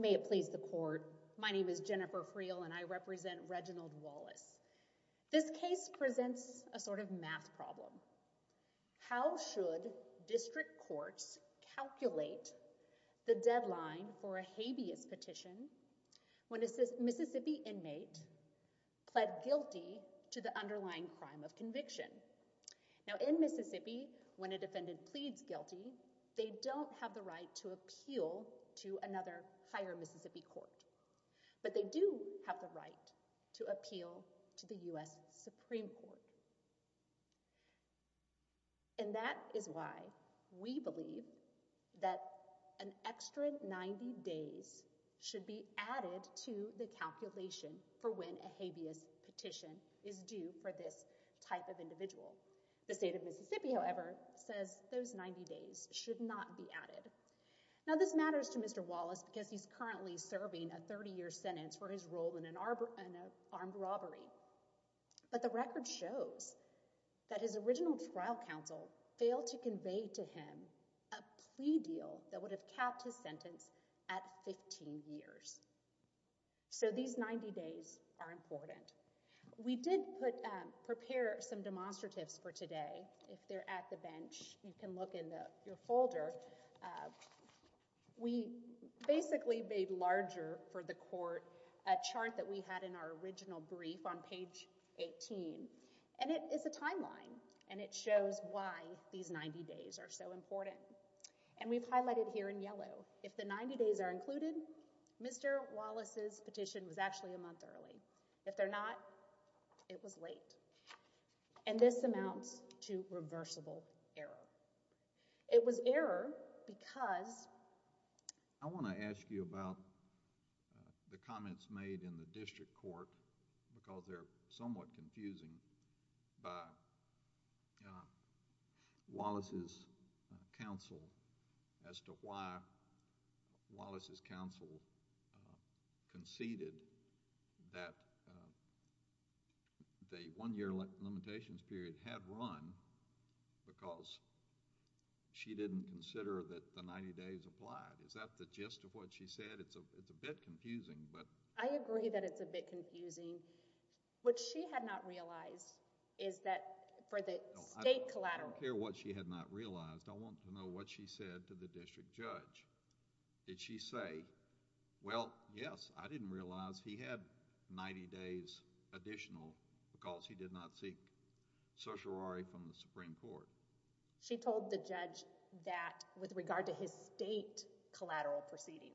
May it please the court. My name is Jennifer Friel and I represent Reginald Wallace. This case presents a sort of math problem. How should district courts calculate the deadline for a habeas petition when a Mississippi inmate pled guilty to the underlying crime of conviction? In Mississippi, when a defendant pleads guilty, they don't have the right to appeal to another higher Mississippi court, but they do have the right to appeal to the U.S. Supreme Court. And that is why we believe that an extra 90 days should be added to the calculation for when a habeas petition is due for this type of individual. The state of Mississippi, however, says those 90 days should not be added. Now this matters to Mr. Wallace because he's currently serving a 30-year sentence for his role in an armed robbery. But the record shows that his original trial counsel failed to convey to him a plea deal that would have capped his sentence at 15 years. So these 90 days are important. We did prepare some demonstratives for today. If they're at the bench, you can look in your folder. We basically made larger for the court a chart that we had in our original brief on page 18. And it is a timeline, and it shows why these 90 days are so important. And we've highlighted here in yellow, if the 90 days are included, Mr. Wallace's petition was actually a month early. If they're not, it was late. And this amounts to reversible error. It was error because... The one-year limitations period had run because she didn't consider that the 90 days applied. Is that the gist of what she said? It's a bit confusing, but... I agree that it's a bit confusing. What she had not realized is that for the state collateral... She told the judge that, with regard to his state collateral proceeding,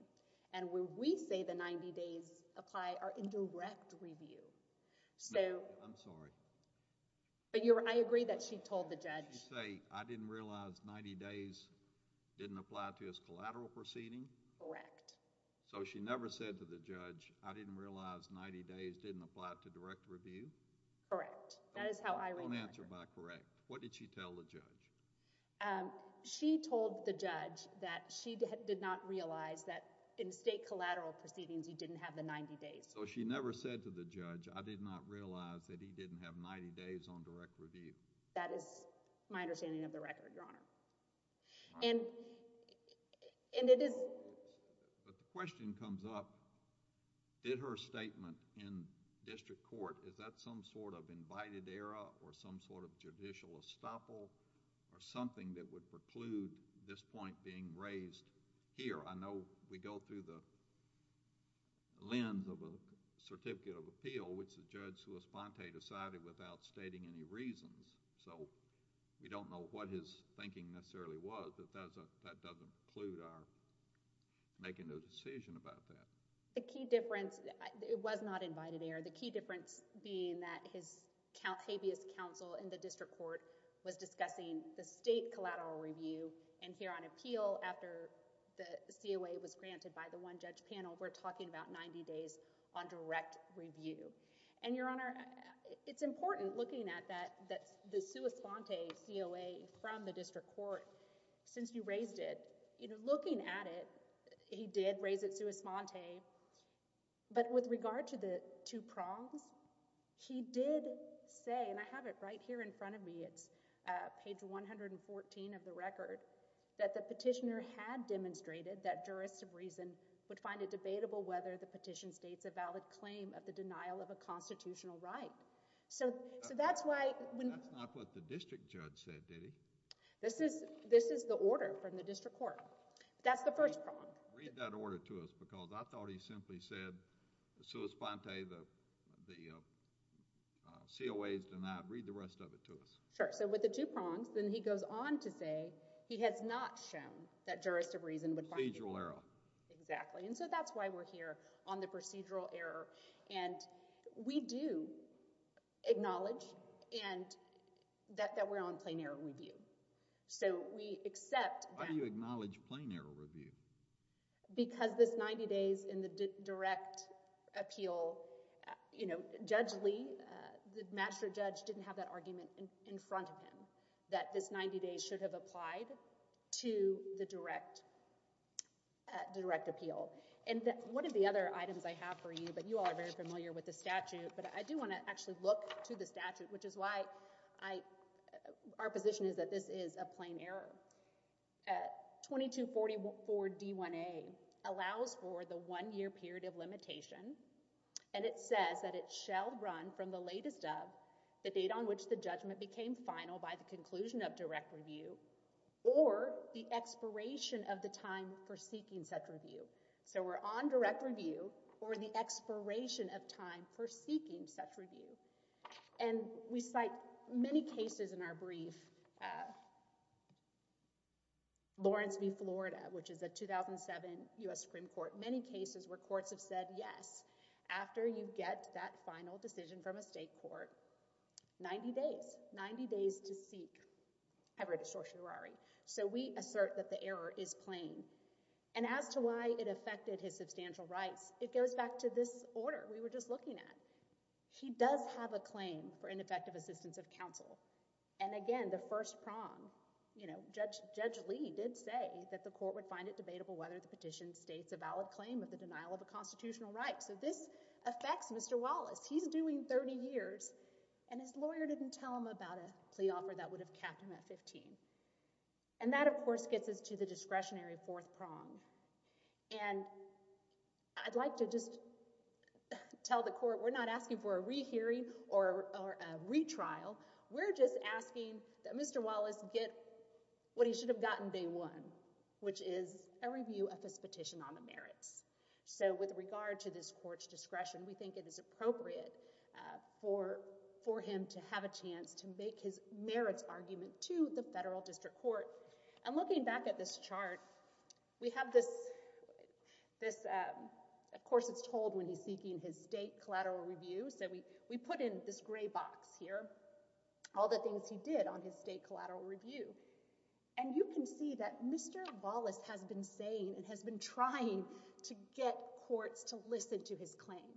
and where we say the 90 days apply are in direct review. I'm sorry. But I agree that she told the judge... She said, I didn't realize 90 days didn't apply to his collateral proceeding? Correct. So she never said to the judge, I didn't realize 90 days didn't apply to direct review? Correct. That is how I read the question. Don't answer by correct. What did she tell the judge? She told the judge that she did not realize that in state collateral proceedings, he didn't have the 90 days. So she never said to the judge, I did not realize that he didn't have 90 days on direct review? That is my understanding of the record, Your Honor. And it is... Is that some sort of invited error, or some sort of judicial estoppel, or something that would preclude this point being raised here? I know we go through the lens of a certificate of appeal, which the judge sui sponte decided without stating any reasons. So we don't know what his thinking necessarily was, but that doesn't preclude our making a decision about that. The key difference... it was not invited error. The key difference being that his habeas counsel in the district court was discussing the state collateral review, and here on appeal, after the COA was granted by the one-judge panel, we're talking about 90 days on direct review. And, Your Honor, it's important, looking at the sui sponte COA from the district court, since you raised it, you know, looking at it, he did raise it sui sponte, but with regard to the two prongs, he did say, and I have it right here in front of me, it's page 114 of the record, that the petitioner had demonstrated that jurists of reason would find it debatable whether the petition states a valid claim of the denial of a constitutional right. So that's why... That's not what the district judge said, did he? This is the order from the district court. That's the first prong. Read that order to us, because I thought he simply said, sui sponte, the COA is denied. Read the rest of it to us. Sure. So with the two prongs, then he goes on to say he has not shown that jurists of reason would... Procedural error. Exactly. And so that's why we're here, on the procedural error. And we do acknowledge that we're on plain error review. So we accept... Why do you acknowledge plain error review? Because this 90 days in the direct appeal, you know, Judge Lee, the master judge, didn't have that argument in front of him, that this 90 days should have applied to the direct appeal. And one of the other items I have for you, but you all are very familiar with the statute, but I do want to actually look to the statute, which is why our position is that this is a plain error. 2244 D1A allows for the one-year period of limitation. And it says that it shall run from the latest of, the date on which the judgment became final by the conclusion of direct review, or the expiration of the time for seeking such review. So we're on direct review, or the expiration of time for seeking such review. And we cite many cases in our brief, Lawrence v. Florida, which is a 2007 U.S. Supreme Court, many cases where courts have said, yes, after you get that final decision from a state court, 90 days, 90 days to seek. I've read a certiorari. So we assert that the error is plain. And as to why it affected his substantial rights, it goes back to this order we were just looking at. He does have a claim for ineffective assistance of counsel. And again, the first prong, you know, Judge Lee did say that the court would find it debatable whether the petition states a valid claim of the denial of a constitutional right. So this affects Mr. Wallace. He's doing 30 years, and his lawyer didn't tell him about a plea offer that would have capped him at 15. And that, of course, gets us to the discretionary fourth prong. And I'd like to just tell the court we're not asking for a rehearing or a retrial. We're just asking that Mr. Wallace get what he should have gotten day one, which is a review of his petition on the merits. So with regard to this court's discretion, we think it is appropriate for him to have a chance to make his merits argument to the federal district court. And looking back at this chart, we have this—of course, it's told when he's seeking his state collateral review. So we put in this gray box here all the things he did on his state collateral review. And you can see that Mr. Wallace has been saying and has been trying to get courts to listen to his claim.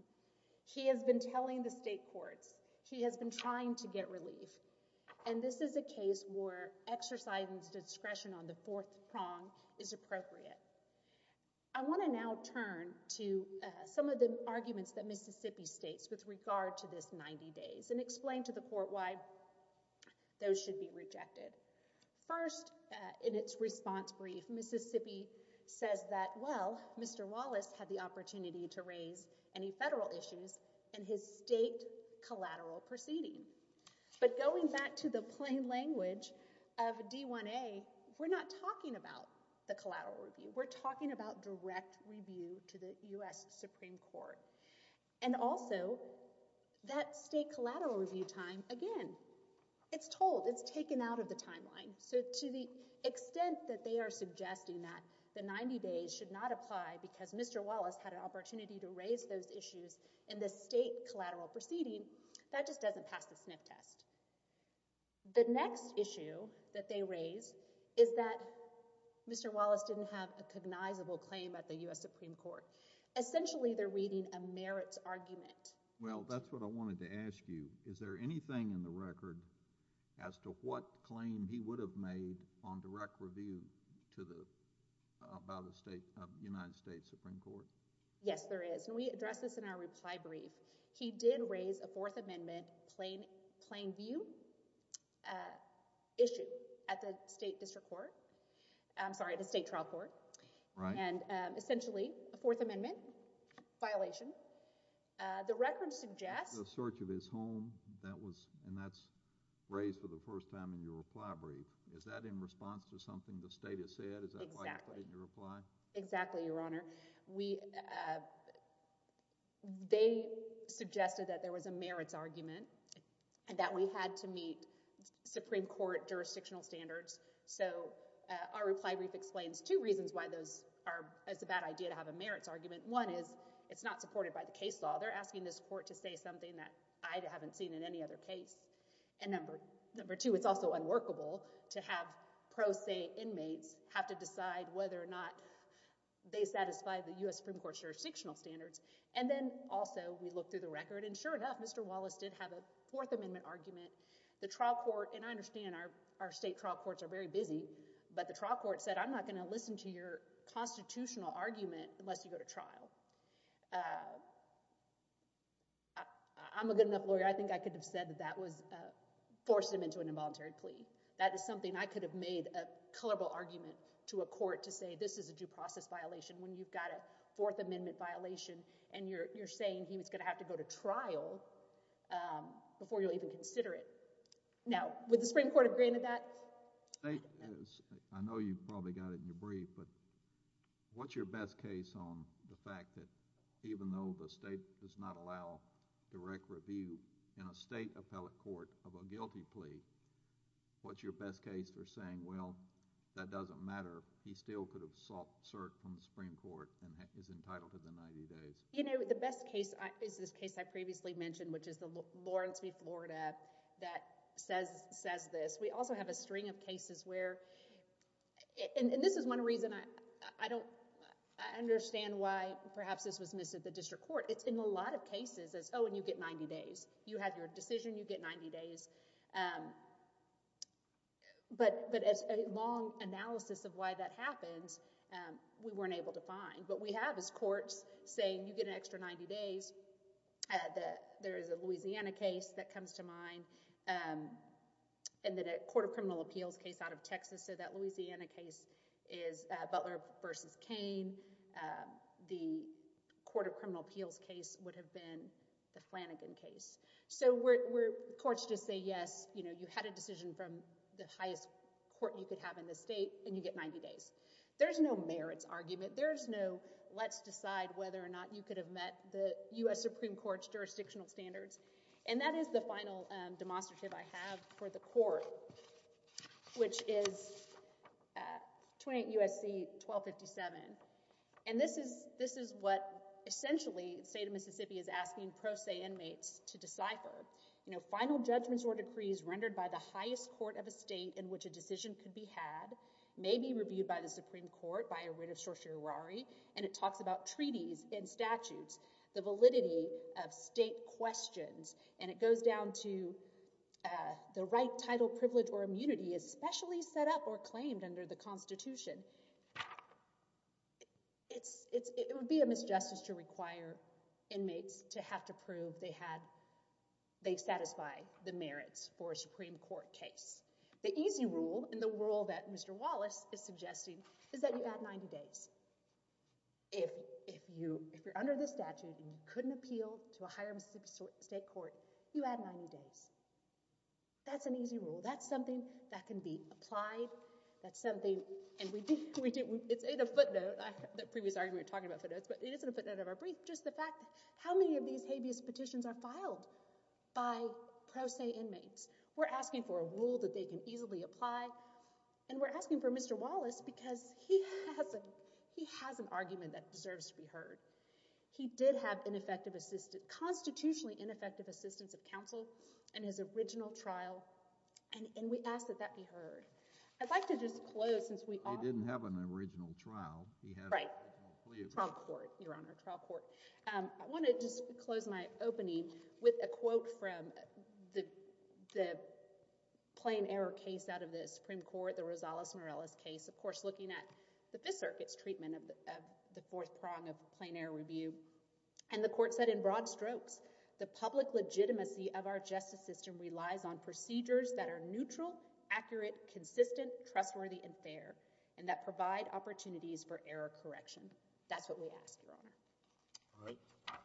He has been telling the state courts. He has been trying to get relief. And this is a case where exercising discretion on the fourth prong is appropriate. I want to now turn to some of the arguments that Mississippi states with regard to this 90 days and explain to the court why those should be rejected. First, in its response brief, Mississippi says that, well, Mr. Wallace had the opportunity to raise any federal issues in his state collateral proceeding. But going back to the plain language of D-1A, we're not talking about the collateral review. We're talking about direct review to the U.S. Supreme Court. And also, that state collateral review time, again, it's told. It's taken out of the timeline. So to the extent that they are suggesting that the 90 days should not apply because Mr. Wallace had an opportunity to raise those issues in the state collateral proceeding, that just doesn't pass the sniff test. The next issue that they raise is that Mr. Wallace didn't have a cognizable claim at the U.S. Supreme Court. Essentially, they're reading a merits argument. Well, that's what I wanted to ask you. Is there anything in the record as to what claim he would have made on direct review to the United States Supreme Court? Yes, there is. And we address this in our reply brief. He did raise a Fourth Amendment plain view issue at the state district court – I'm sorry, the state trial court. Right. And essentially, a Fourth Amendment violation. The record suggests – The search of his home, that was – and that's raised for the first time in your reply brief. Is that in response to something the state has said? Exactly. Is that why you put it in your reply? Exactly, Your Honor. They suggested that there was a merits argument and that we had to meet Supreme Court jurisdictional standards. So our reply brief explains two reasons why those are – it's a bad idea to have a merits argument. One is it's not supported by the case law. They're asking this court to say something that I haven't seen in any other case. And number two, it's also unworkable to have pro se inmates have to decide whether or not they satisfy the U.S. Supreme Court jurisdictional standards. And then also we look through the record. And sure enough, Mr. Wallace did have a Fourth Amendment argument. The trial court – and I understand our state trial courts are very busy. But the trial court said, I'm not going to listen to your constitutional argument unless you go to trial. I'm a good enough lawyer. I think I could have said that that was – forced him into an involuntary plea. That is something I could have made a colorable argument to a court to say this is a due process violation when you've got a Fourth Amendment violation. And you're saying he was going to have to go to trial before you'll even consider it. Now, would the Supreme Court have granted that? I don't know. I know you probably got it in your brief, but what's your best case on the fact that even though the state does not allow direct review in a state appellate court of a guilty plea, what's your best case for saying, well, that doesn't matter. He still could have sought cert from the Supreme Court and is entitled to the 90 days. You know, the best case is this case I previously mentioned, which is the Lawrence v. Florida that says this. We also have a string of cases where – and this is one reason I don't – I understand why perhaps this was missed at the district court. It's in a lot of cases as, oh, and you get 90 days. You have your decision. You get 90 days. But as a long analysis of why that happens, we weren't able to find. What we have is courts saying you get an extra 90 days. There is a Louisiana case that comes to mind and then a court of criminal appeals case out of Texas. So that Louisiana case is Butler v. Cain. The court of criminal appeals case would have been the Flanagan case. So courts just say, yes, you had a decision from the highest court you could have in the state, and you get 90 days. There is no merits argument. There is no let's decide whether or not you could have met the U.S. Supreme Court's jurisdictional standards. And that is the final demonstrative I have for the court, which is 28 U.S.C. 1257. And this is what essentially the state of Mississippi is asking pro se inmates to decipher. You know, final judgments or decrees rendered by the highest court of a state in which a decision could be had may be reviewed by the Supreme Court by a writ of certiorari. And it talks about treaties and statutes, the validity of state questions. And it goes down to the right title, privilege or immunity, especially set up or claimed under the Constitution. It would be a misjustice to require inmates to have to prove they satisfy the merits for a Supreme Court case. The easy rule and the rule that Mr. Wallace is suggesting is that you add 90 days. If you're under the statute and you couldn't appeal to a higher Mississippi state court, you add 90 days. That's an easy rule. That's something that can be applied. It's in a footnote. The previous argument we were talking about footnotes, but it is in a footnote of our brief. Just the fact how many of these habeas petitions are filed by pro se inmates. We're asking for a rule that they can easily apply. And we're asking for Mr. Wallace because he has an argument that deserves to be heard. He did have constitutionally ineffective assistance of counsel in his original trial. And we ask that that be heard. I'd like to just close since we— He didn't have an original trial. Right. Trial court, Your Honor, trial court. I want to just close my opening with a quote from the plain error case out of the Supreme Court, the Rosales-Morales case. Of course, looking at the Fifth Circuit's treatment of the fourth prong of plain error review. And the court said in broad strokes, the public legitimacy of our justice system relies on procedures that are neutral, accurate, consistent, trustworthy, and fair. And that provide opportunities for error correction. That's what we ask, Your Honor. All right.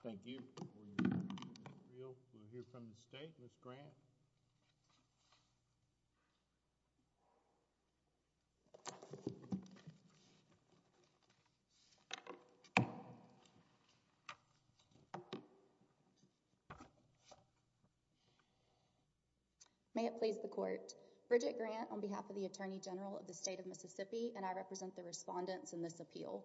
Thank you. We'll hear from the state, Ms. Grant. May it please the court. Bridget Grant on behalf of the Attorney General of the state of Mississippi, and I represent the respondents in this appeal.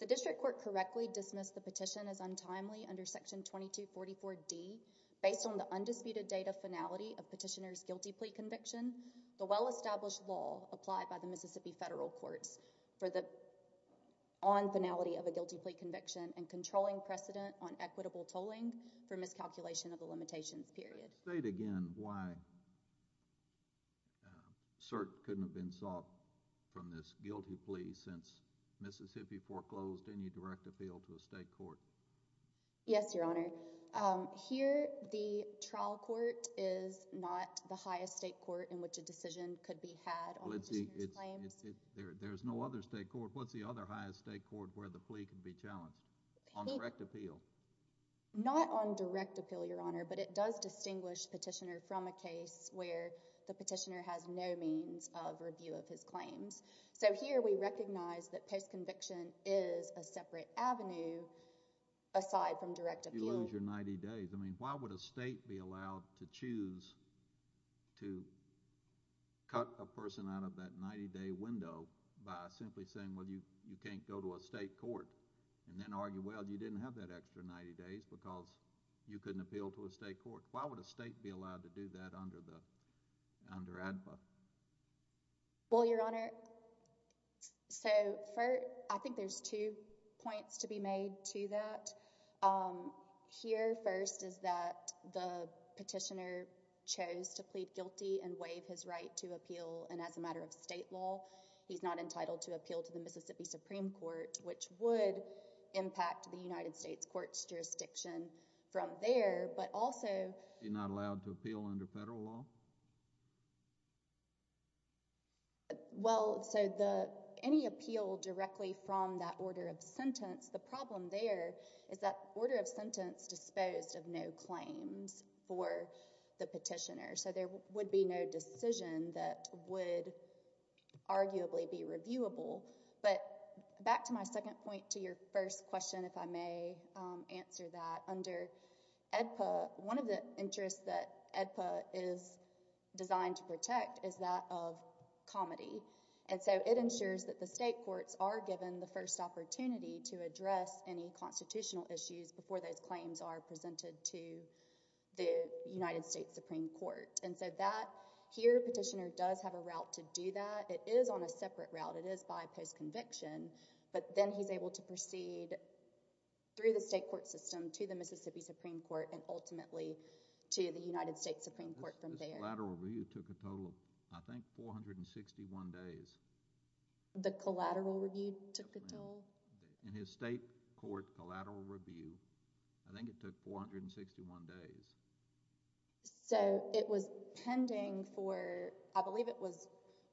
The district court correctly dismissed the petition as untimely under section 2244D based on the undisputed date of finality of petitioner's guilty plea conviction. The well-established law applied by the Mississippi federal courts for the on finality of a guilty plea conviction and controlling precedent on equitable tolling for miscalculation of the limitations period. State again why cert couldn't have been sought from this guilty plea since Mississippi foreclosed any direct appeal to a state court. Yes, Your Honor. Here the trial court is not the highest state court in which a decision could be had on petitioner's claims. There's no other state court. What's the other highest state court where the plea could be challenged on direct appeal? Not on direct appeal, Your Honor, but it does distinguish petitioner from a case where the petitioner has no means of review of his claims. So here we recognize that postconviction is a separate avenue aside from direct appeal. You lose your 90 days. I mean, why would a state be allowed to choose to cut a person out of that 90-day window by simply saying, well, you can't go to a state court and then argue, well, you didn't have that extra 90 days because you couldn't appeal to a state court. Why would a state be allowed to do that under the, under ADPA? Well, Your Honor, so I think there's two points to be made to that. Here, first, is that the petitioner chose to plead guilty and waive his right to appeal. And as a matter of state law, he's not entitled to appeal to the Mississippi Supreme Court, which would impact the United States court's jurisdiction from there. He's not allowed to appeal under federal law? Well, so any appeal directly from that order of sentence, the problem there is that order of sentence disposed of no claims for the petitioner. So there would be no decision that would arguably be reviewable. But back to my second point to your first question, if I may answer that, under ADPA, one of the interests that ADPA is designed to protect is that of comity. And so it ensures that the state courts are given the first opportunity to address any constitutional issues before those claims are presented to the United States Supreme Court. And so that, here, petitioner does have a route to do that. It is on a separate route. It is by post-conviction. But then he's able to proceed through the state court system to the Mississippi Supreme Court and ultimately to the United States Supreme Court from there. This collateral review took a total of, I think, 461 days. The collateral review took a total? In his state court collateral review, I think it took 461 days. So it was pending for, I believe it was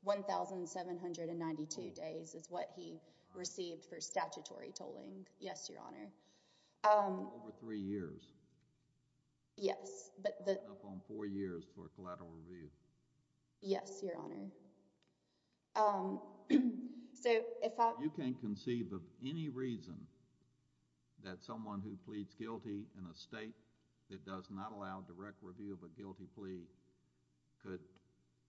1,792 days is what he received for statutory tolling. Yes, Your Honor. Over three years. Yes. Up on four years for collateral review. Yes, Your Honor. You can't conceive of any reason that someone who pleads guilty in a state that does not allow direct review of a guilty plea could,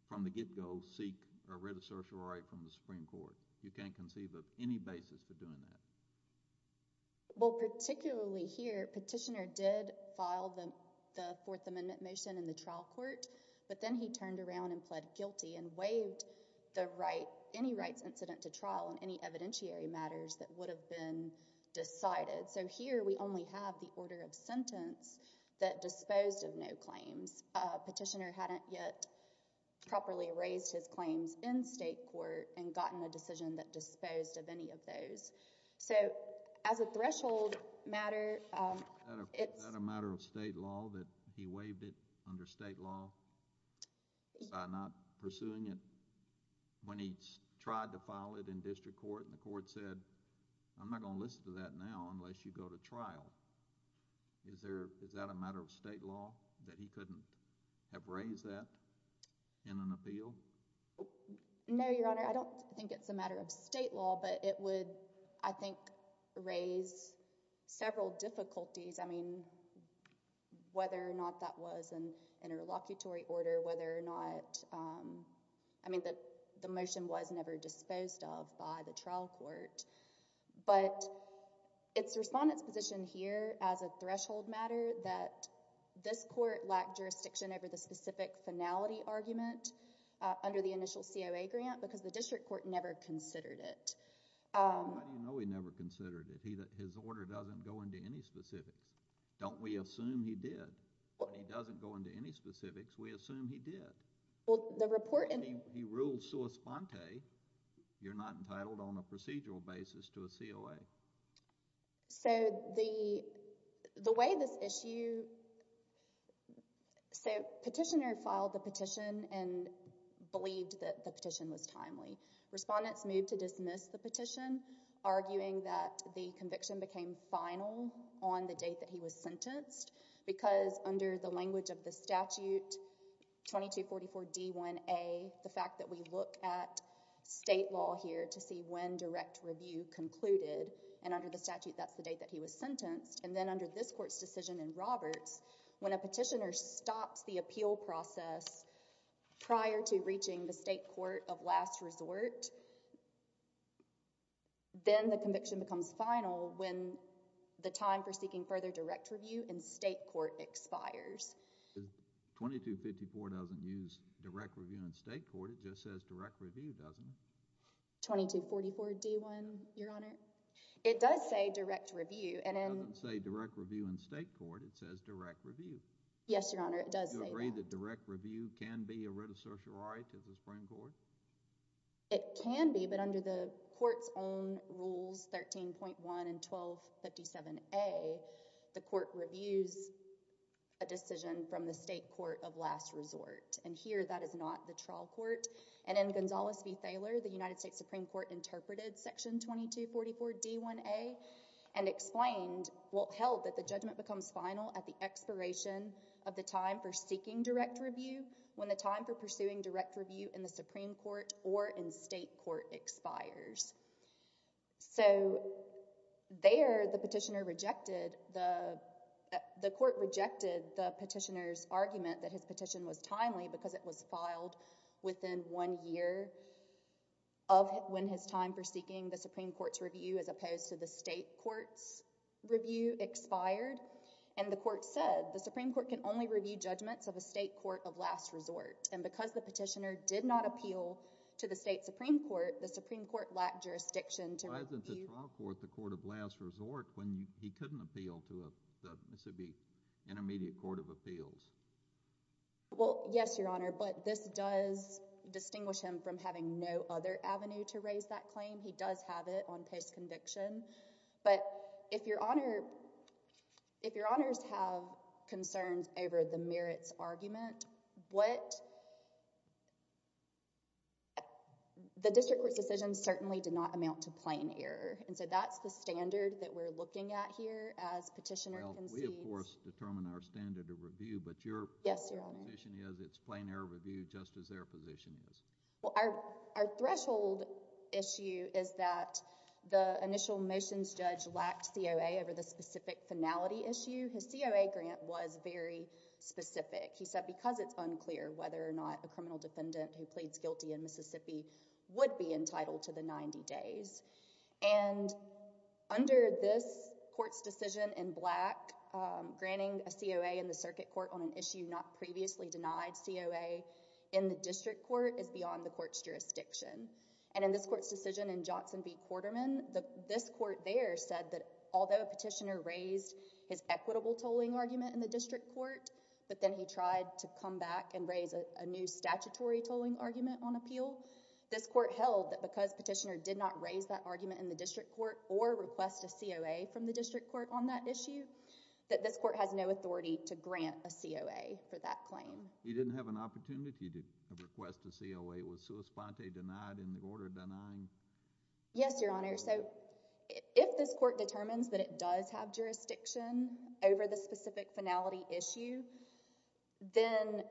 from the get-go, seek a writ of certiorari from the Supreme Court. You can't conceive of any basis for doing that. Well, particularly here, petitioner did file the Fourth Amendment motion in the trial court. But then he turned around and pled guilty and waived the right, any rights incident to trial in any evidentiary matters that would have been decided. So here we only have the order of sentence that disposed of no claims. Petitioner hadn't yet properly raised his claims in state court and gotten a decision that disposed of any of those. So as a threshold matter, it's... Is that a matter of state law that he waived it under state law by not pursuing it when he tried to file it in district court? And the court said, I'm not going to listen to that now unless you go to trial. Is there, is that a matter of state law that he couldn't have raised that in an appeal? No, Your Honor. I don't think it's a matter of state law, but it would, I think, raise several difficulties. I mean, whether or not that was an interlocutory order, whether or not... I mean, the motion was never disposed of by the trial court. But it's Respondent's position here as a threshold matter that this court lacked jurisdiction over the specific finality argument under the initial COA grant because the district court never considered it. How do you know he never considered it? His order doesn't go into any specifics. Don't we assume he did? When he doesn't go into any specifics, we assume he did. Well, the report... He ruled sua sponte. You're not entitled on a procedural basis to a COA. So, the way this issue... So, Petitioner filed the petition and believed that the petition was timely. Respondent's moved to dismiss the petition, arguing that the conviction became final on the date that he was sentenced because under the language of the statute, 2244D1A, the fact that we look at state law here to see when direct review concluded, and under the statute, that's the date that he was sentenced, and then under this court's decision in Roberts, when a petitioner stops the appeal process prior to reaching the state court of last resort, then the conviction becomes final when the time for seeking further direct review in state court expires. 2254 doesn't use direct review in state court. It just says direct review, doesn't it? 2244D1, Your Honor. It does say direct review, and in... It doesn't say direct review in state court. It says direct review. Yes, Your Honor, it does say that. Do you agree that direct review can be a writ of certiorari to the Supreme Court? It can be, but under the court's own rules, 13.1 and 1257A, the court reviews a decision from the state court of last resort. And here, that is not the trial court. And in Gonzales v. Thaler, the United States Supreme Court interpreted section 2244D1A and explained... well, held that the judgment becomes final at the expiration of the time for seeking direct review when the time for pursuing direct review in the Supreme Court or in state court expires. So there, the petitioner rejected... the court rejected the petitioner's argument that his petition was timely because it was filed within one year of when his time for seeking the Supreme Court's review, as opposed to the state court's review, expired. And the court said, the Supreme Court can only review judgments of a state court of last resort. And because the petitioner did not appeal to the state Supreme Court, the Supreme Court lacked jurisdiction to review... Why isn't the trial court the court of last resort when he couldn't appeal to the Mississippi Intermediate Court of Appeals? Well, yes, Your Honor, but this does distinguish him from having no other avenue to raise that claim. He does have it on post conviction. But if Your Honor... if Your Honors have concerns over the merits argument, what... the district court's decision certainly did not amount to plain error. And so that's the standard that we're looking at here as petitioner concedes... Well, we, of course, determine our standard of review, but your... Yes, Your Honor.... position is it's plain error review just as their position is. Well, our threshold issue is that the initial motions judge lacked COA over the specific finality issue. His COA grant was very specific. He said because it's unclear whether or not a criminal defendant who pleads guilty in Mississippi would be entitled to the 90 days. And under this court's decision in Black, granting a COA in the circuit court on an issue not previously denied COA in the district court is beyond the court's jurisdiction. And in this court's decision in Johnson v. Quarterman, this court there said that although a petitioner raised his equitable tolling argument in the district court... but then he tried to come back and raise a new statutory tolling argument on appeal... this court held that because petitioner did not raise that argument in the district court or request a COA from the district court on that issue... that this court has no authority to grant a COA for that claim. He didn't have an opportunity to request a COA. It was sua sponte denied in the order denying... Yes, Your Honor. So, if this court determines that it does have jurisdiction over the specific finality issue, then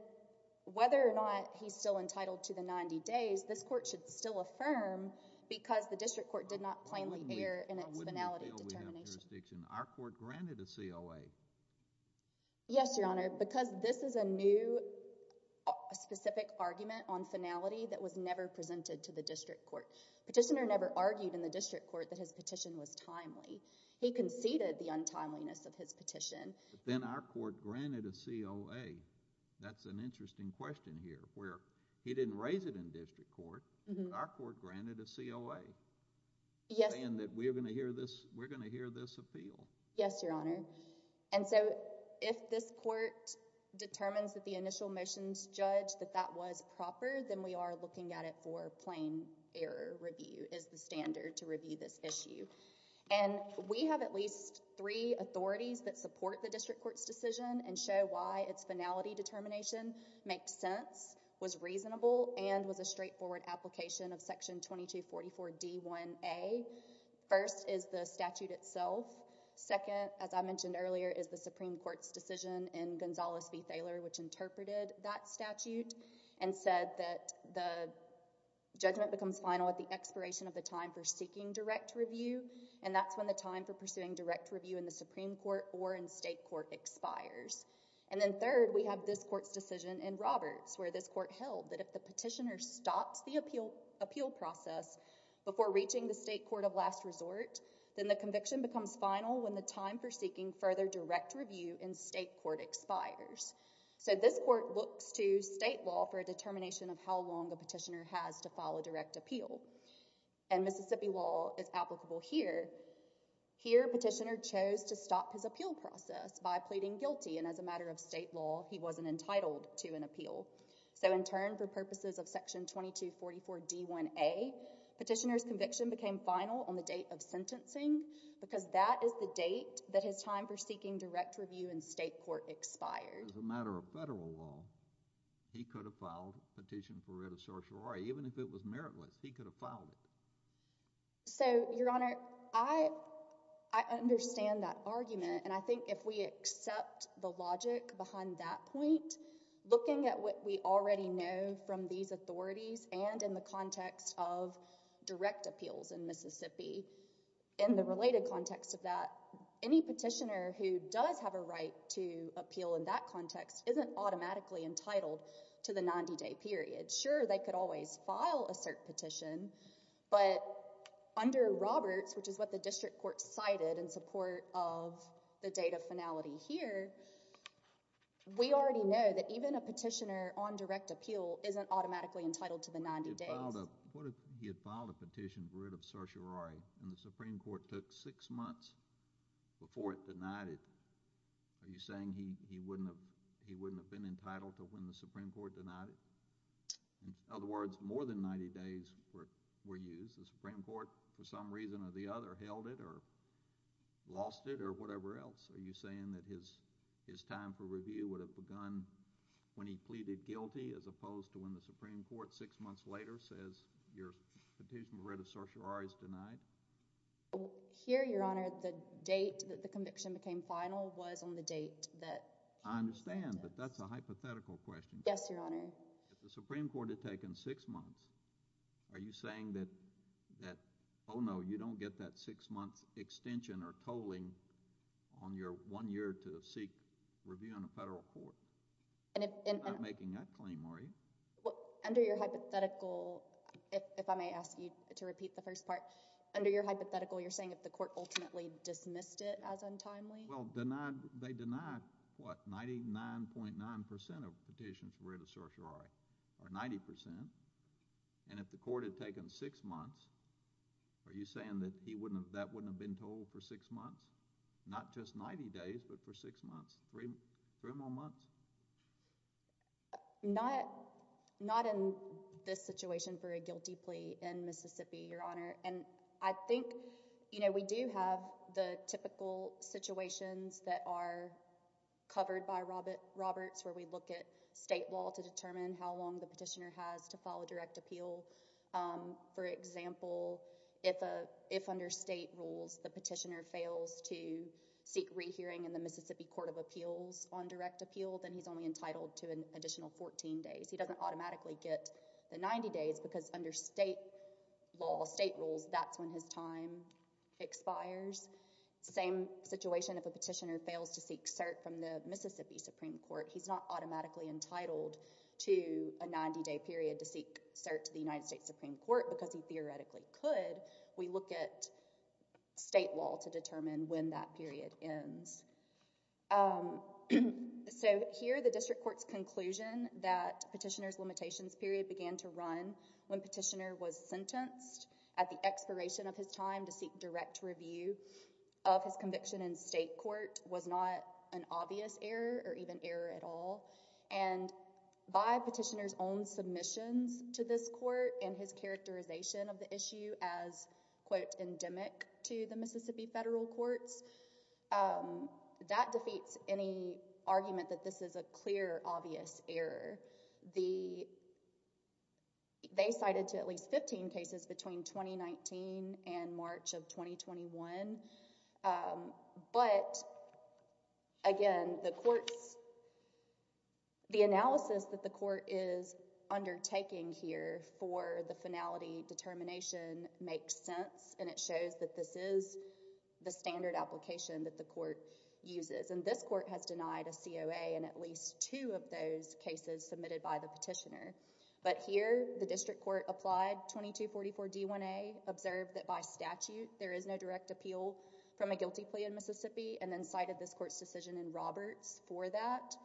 whether or not he's still entitled to the 90 days... this court should still affirm because the district court did not plainly err in its finality determination. Our court granted a COA. Yes, Your Honor. Because this is a new specific argument on finality that was never presented to the district court. Petitioner never argued in the district court that his petition was timely. He conceded the untimeliness of his petition. Then our court granted a COA. That's an interesting question here where he didn't raise it in district court. Our court granted a COA. Yes. Saying that we're going to hear this, we're going to hear this appeal. Yes, Your Honor. And so, if this court determines that the initial motions judge that that was proper, then we are looking at it for plain error review is the standard to review this issue. And, we have at least three authorities that support the district court's decision and show why its finality determination makes sense, was reasonable and was a straightforward application of Section 2244 D1A. First is the statute itself. Second, as I mentioned earlier, is the Supreme Court's decision in Gonzales v. Thaler, which interpreted that statute and said that the judgment becomes final at the expiration of the time for seeking direct review. And, that's when the time for pursuing direct review in the Supreme Court or in state court expires. And, then third, we have this court's decision in Roberts where this court held that if the petitioner stops the appeal process before reaching the state court of last resort, then the conviction becomes final when the time for seeking further direct review in state court expires. So, this court looks to state law for a determination of how long a petitioner has to file a direct appeal. And, Mississippi law is applicable here. Here, petitioner chose to stop his appeal process by pleading guilty. And, as a matter of state law, he wasn't entitled to an appeal. So, in turn, for purposes of Section 2244 D1A, petitioner's conviction became final on the date of sentencing because that is the date that his time for seeking direct review in state court expired. As a matter of federal law, he could have filed a petition for writ of sorcery. Even if it was meritless, he could have filed it. So, Your Honor, I understand that argument. And, I think if we accept the logic behind that point, looking at what we already know from these authorities and in the context of direct appeals in Mississippi, in the related context of that, any petitioner who does have a right to appeal in that context isn't automatically entitled to the 90-day period. Sure, they could always file a cert petition, but under Roberts, which is what the district court cited in support of the date of finality here, we already know that even a petitioner on direct appeal isn't automatically entitled to the 90 days. What if he had filed a petition for writ of sorcery and the Supreme Court took six months before it denied it? Are you saying he wouldn't have been entitled to when the Supreme Court denied it? In other words, more than 90 days were used. The Supreme Court, for some reason or the other, held it or lost it or whatever else. Are you saying that his time for review would have begun when he pleaded guilty as opposed to when the Supreme Court, six months later, says your petition for writ of sorcery is denied? Here, Your Honor, the date that the conviction became final was on the date that he was sentenced. I understand, but that's a hypothetical question. Yes, Your Honor. If the Supreme Court had taken six months, are you saying that, oh no, you don't get that six-month extension or tolling on your one year to seek review in a federal court? You're not making that claim, are you? Under your hypothetical, if I may ask you to repeat the first part, under your hypothetical, you're saying if the court ultimately dismissed it as untimely? Well, they denied, what, 99.9% of petitions for writ of sorcery, or 90%, and if the court had taken six months, are you saying that that wouldn't have been tolled for six months? Not just 90 days, but for six months, three more months. Not in this situation for a guilty plea in Mississippi, Your Honor. And I think, you know, we do have the typical situations that are covered by Roberts where we look at state law to determine how long the petitioner has to file a direct appeal. For example, if under state rules, the petitioner fails to seek rehearing in the Mississippi Court of Appeals on direct appeal, then he's only entitled to an additional 14 days. He doesn't automatically get the 90 days because under state law, state rules, that's when his time expires. Same situation if a petitioner fails to seek cert from the Mississippi Supreme Court. He's not automatically entitled to a 90-day period to seek cert to the United States Supreme Court because he theoretically could. We look at state law to determine when that period ends. So here, the district court's conclusion that petitioner's limitations period began to run when petitioner was sentenced at the expiration of his time to seek direct review of his conviction in state court was not an obvious error or even error at all. And by petitioner's own submissions to this court and his characterization of the issue as, quote, endemic to the Mississippi federal courts, that defeats any argument that this is a clear, obvious error. They cited to at least 15 cases between 2019 and March of 2021. But again, the analysis that the court is undertaking here for the finality determination makes sense, and it shows that this is the standard application that the court uses. And this court has denied a COA in at least two of those cases submitted by the petitioner. But here, the district court applied 2244 D1A, observed that by statute there is no direct appeal from a guilty plea in Mississippi, and then cited this court's decision in Roberts for that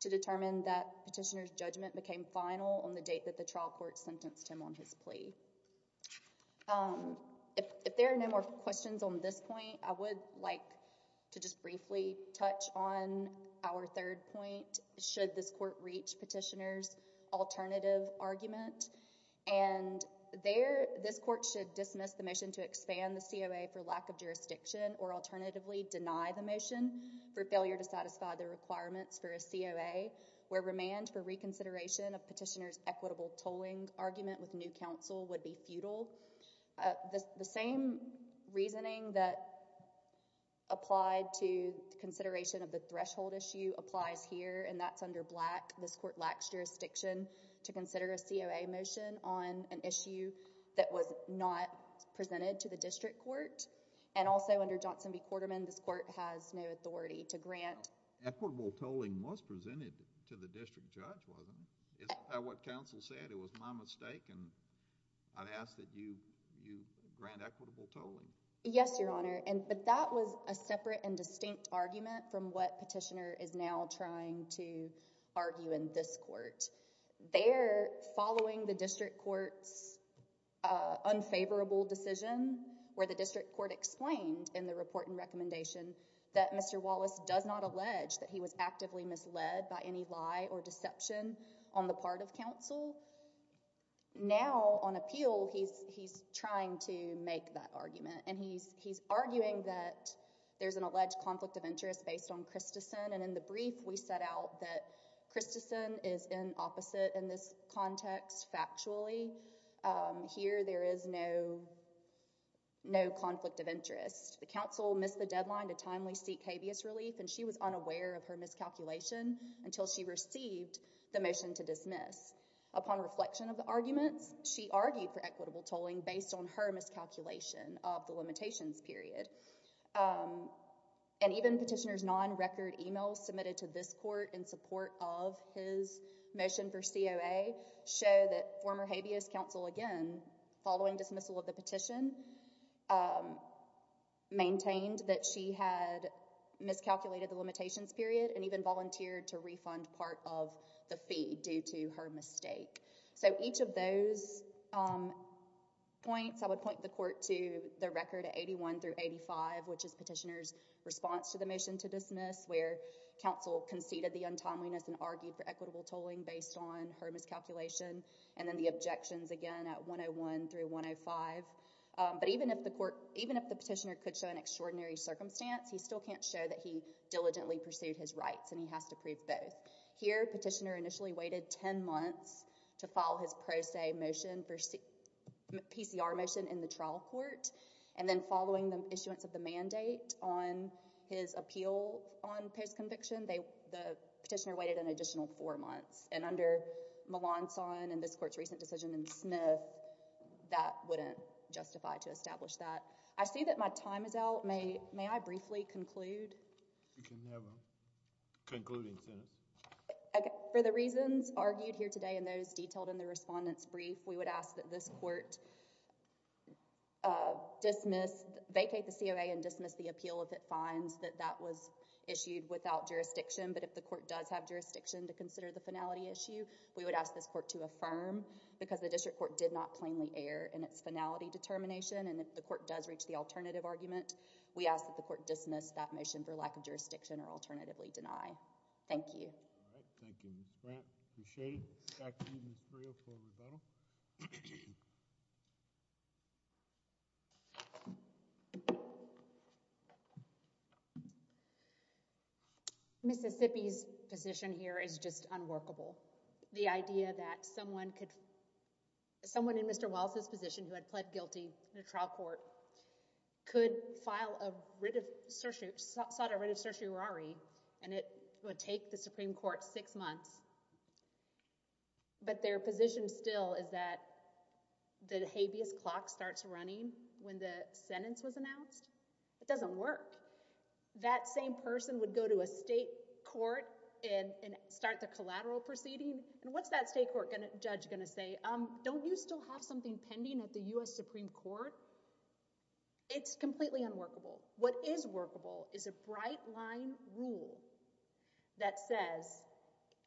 to determine that petitioner's judgment became final on the date that the trial court sentenced him on his plea. If there are no more questions on this point, I would like to just briefly touch on our third point. Should this court reach petitioner's alternative argument? And this court should dismiss the motion to expand the COA for lack of jurisdiction or alternatively deny the motion for failure to satisfy the requirements for a COA where remand for reconsideration of petitioner's equitable tolling argument with new counsel would be futile. The same reasoning that applied to consideration of the threshold issue applies here, and that's under Black. This court lacks jurisdiction to consider a COA motion on an issue that was not presented to the district court. And also under Johnson v. Quarterman, this court has no authority to grant... Equitable tolling was presented to the district judge, wasn't it? Isn't that what counsel said? It was my mistake, and I'd ask that you grant equitable tolling. Yes, Your Honor, but that was a separate and distinct argument from what petitioner is now trying to argue in this court. They're following the district court's unfavorable decision where the district court explained in the report and recommendation that Mr. Wallace does not allege that he was actively misled by any lie or deception on the part of counsel. Now, on appeal, he's trying to make that argument. And he's arguing that there's an alleged conflict of interest based on Christensen. And in the brief, we set out that Christensen is in opposite in this context factually. Here, there is no conflict of interest. The counsel missed the deadline to timely seek habeas relief, and she was unaware of her miscalculation until she received the motion to dismiss. Upon reflection of the arguments, she argued for equitable tolling based on her miscalculation of the limitations period. And even petitioner's non-record emails submitted to this court in support of his motion for COA show that former habeas counsel, again, following dismissal of the petition, maintained that she had miscalculated the limitations period and even volunteered to refund part of the fee due to her mistake. So each of those points, I would point the court to the record at 81 through 85, which is petitioner's response to the motion to dismiss, where counsel conceded the untimeliness and argued for equitable tolling based on her miscalculation. And then the objections, again, at 101 through 105. But even if the petitioner could show an extraordinary circumstance, he still can't show that he diligently pursued his rights, and he has to prove both. Here, petitioner initially waited 10 months to file his pro se motion for PCR motion in the trial court. And then following the issuance of the mandate on his appeal on post-conviction, the petitioner waited an additional four months. And under Melancon and this court's recent decision in Smith, that wouldn't justify to establish that. I see that my time is out. May I briefly conclude? You can have a concluding sentence. For the reasons argued here today and those detailed in the respondent's brief, we would ask that this court vacate the COA and dismiss the appeal if it finds that that was issued without jurisdiction. But if the court does have jurisdiction to consider the finality issue, we would ask this court to affirm. Because the district court did not plainly err in its finality determination. And if the court does reach the alternative argument, we ask that the court dismiss that motion for lack of jurisdiction or alternatively deny. Thank you. All right. Thank you, Ms. Grant. Appreciate it. Back to you, Ms. Friel, for rebuttal. Mississippi's position here is just unworkable. The idea that someone could—someone in Mr. Walz's position who had pled guilty in a trial court could file a writ of—sought a writ of certiorari, and it would take the Supreme Court six months. But their position still is that the habeas clock starts running when the sentence was announced? It doesn't work. That same person would go to a state court and start the collateral proceeding? And what's that state court judge going to say? Don't you still have something pending at the U.S. Supreme Court? It's completely unworkable. What is workable is a bright-line rule that says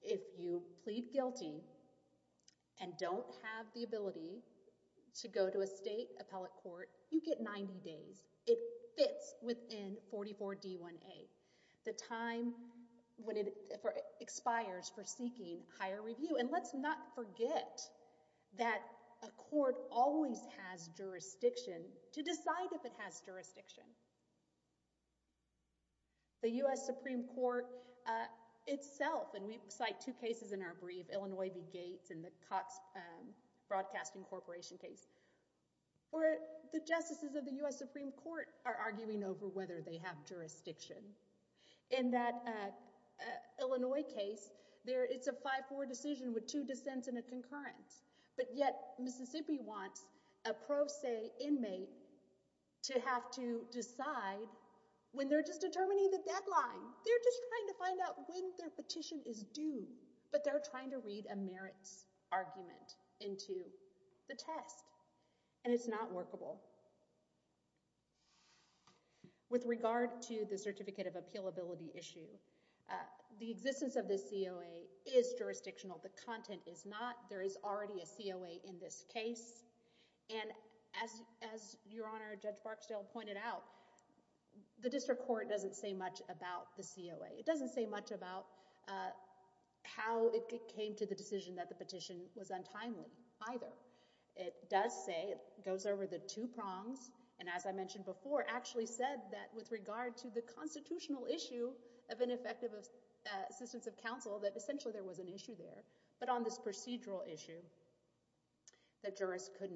if you plead guilty and don't have the ability to go to a state appellate court, you get 90 days. It fits within 44D1A, the time when it expires for seeking higher review. And let's not forget that a court always has jurisdiction to decide if it has jurisdiction. The U.S. Supreme Court itself—and we cite two cases in our brief, Illinois v. Gates and the Cox Broadcasting Corporation case, where the justices of the U.S. Supreme Court are arguing over whether they have jurisdiction. In that Illinois case, it's a 5-4 decision with two dissents and a concurrence. But yet Mississippi wants a pro se inmate to have to decide when they're just determining the deadline. They're just trying to find out when their petition is due. But they're trying to read a merits argument into the test. And it's not workable. With regard to the certificate of appealability issue, the existence of this COA is jurisdictional. The content is not. There is already a COA in this case. And as Your Honor, Judge Barksdale pointed out, the district court doesn't say much about the COA. It doesn't say much about how it came to the decision that the petition was untimely either. It does say—it goes over the two prongs. And as I mentioned before, actually said that with regard to the constitutional issue of ineffective assistance of counsel, that essentially there was an issue there. But on this procedural issue, the jurist could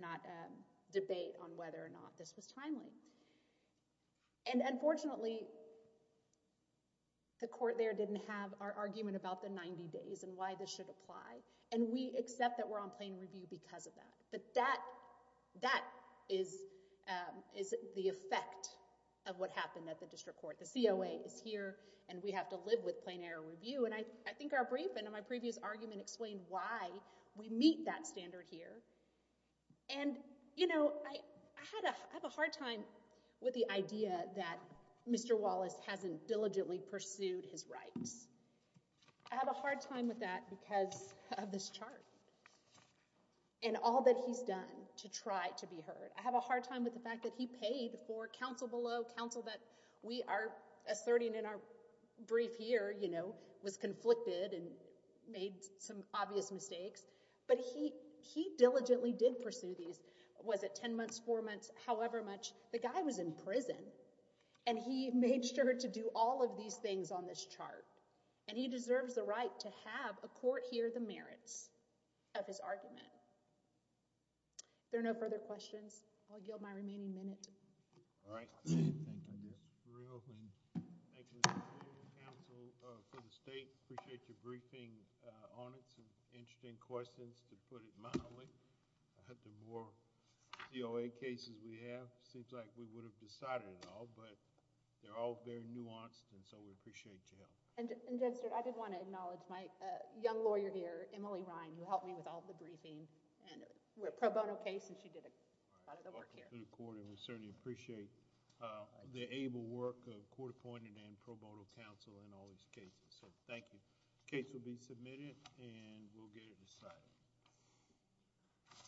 not debate on whether or not this was timely. And unfortunately, the court there didn't have our argument about the 90 days and why this should apply. And we accept that we're on plain review because of that. But that is the effect of what happened at the district court. The COA is here, and we have to live with plain error review. And I think our brief and my previous argument explained why we meet that standard here. And, you know, I have a hard time with the idea that Mr. Wallace hasn't diligently pursued his rights. I have a hard time with that because of this chart and all that he's done to try to be heard. I have a hard time with the fact that he paid for counsel below, counsel that we are asserting in our brief here, you know, was conflicted and made some obvious mistakes. But he diligently did pursue these. Was it 10 months, four months, however much? The guy was in prison, and he made sure to do all of these things on this chart. And he deserves the right to have a court hear the merits of his argument. There are no further questions. I'll yield my remaining minute. All right. Thank you. This is thrilling. Thank you, Mr. Chair and counsel for the state. Appreciate your briefing on it. Some interesting questions, to put it mildly. I hope the more COA cases we have, it seems like we would have decided it all. But they're all very nuanced, and so we appreciate your help. And, Judge Stewart, I did want to acknowledge my young lawyer here, Emily Ryan, who helped me with all the briefing. And we're a pro bono case, and she did a lot of the work here. Welcome to the court, and we certainly appreciate the able work of court appointed and pro bono counsel in all these cases. So thank you. The case will be submitted, and we'll get it decided. Thank you.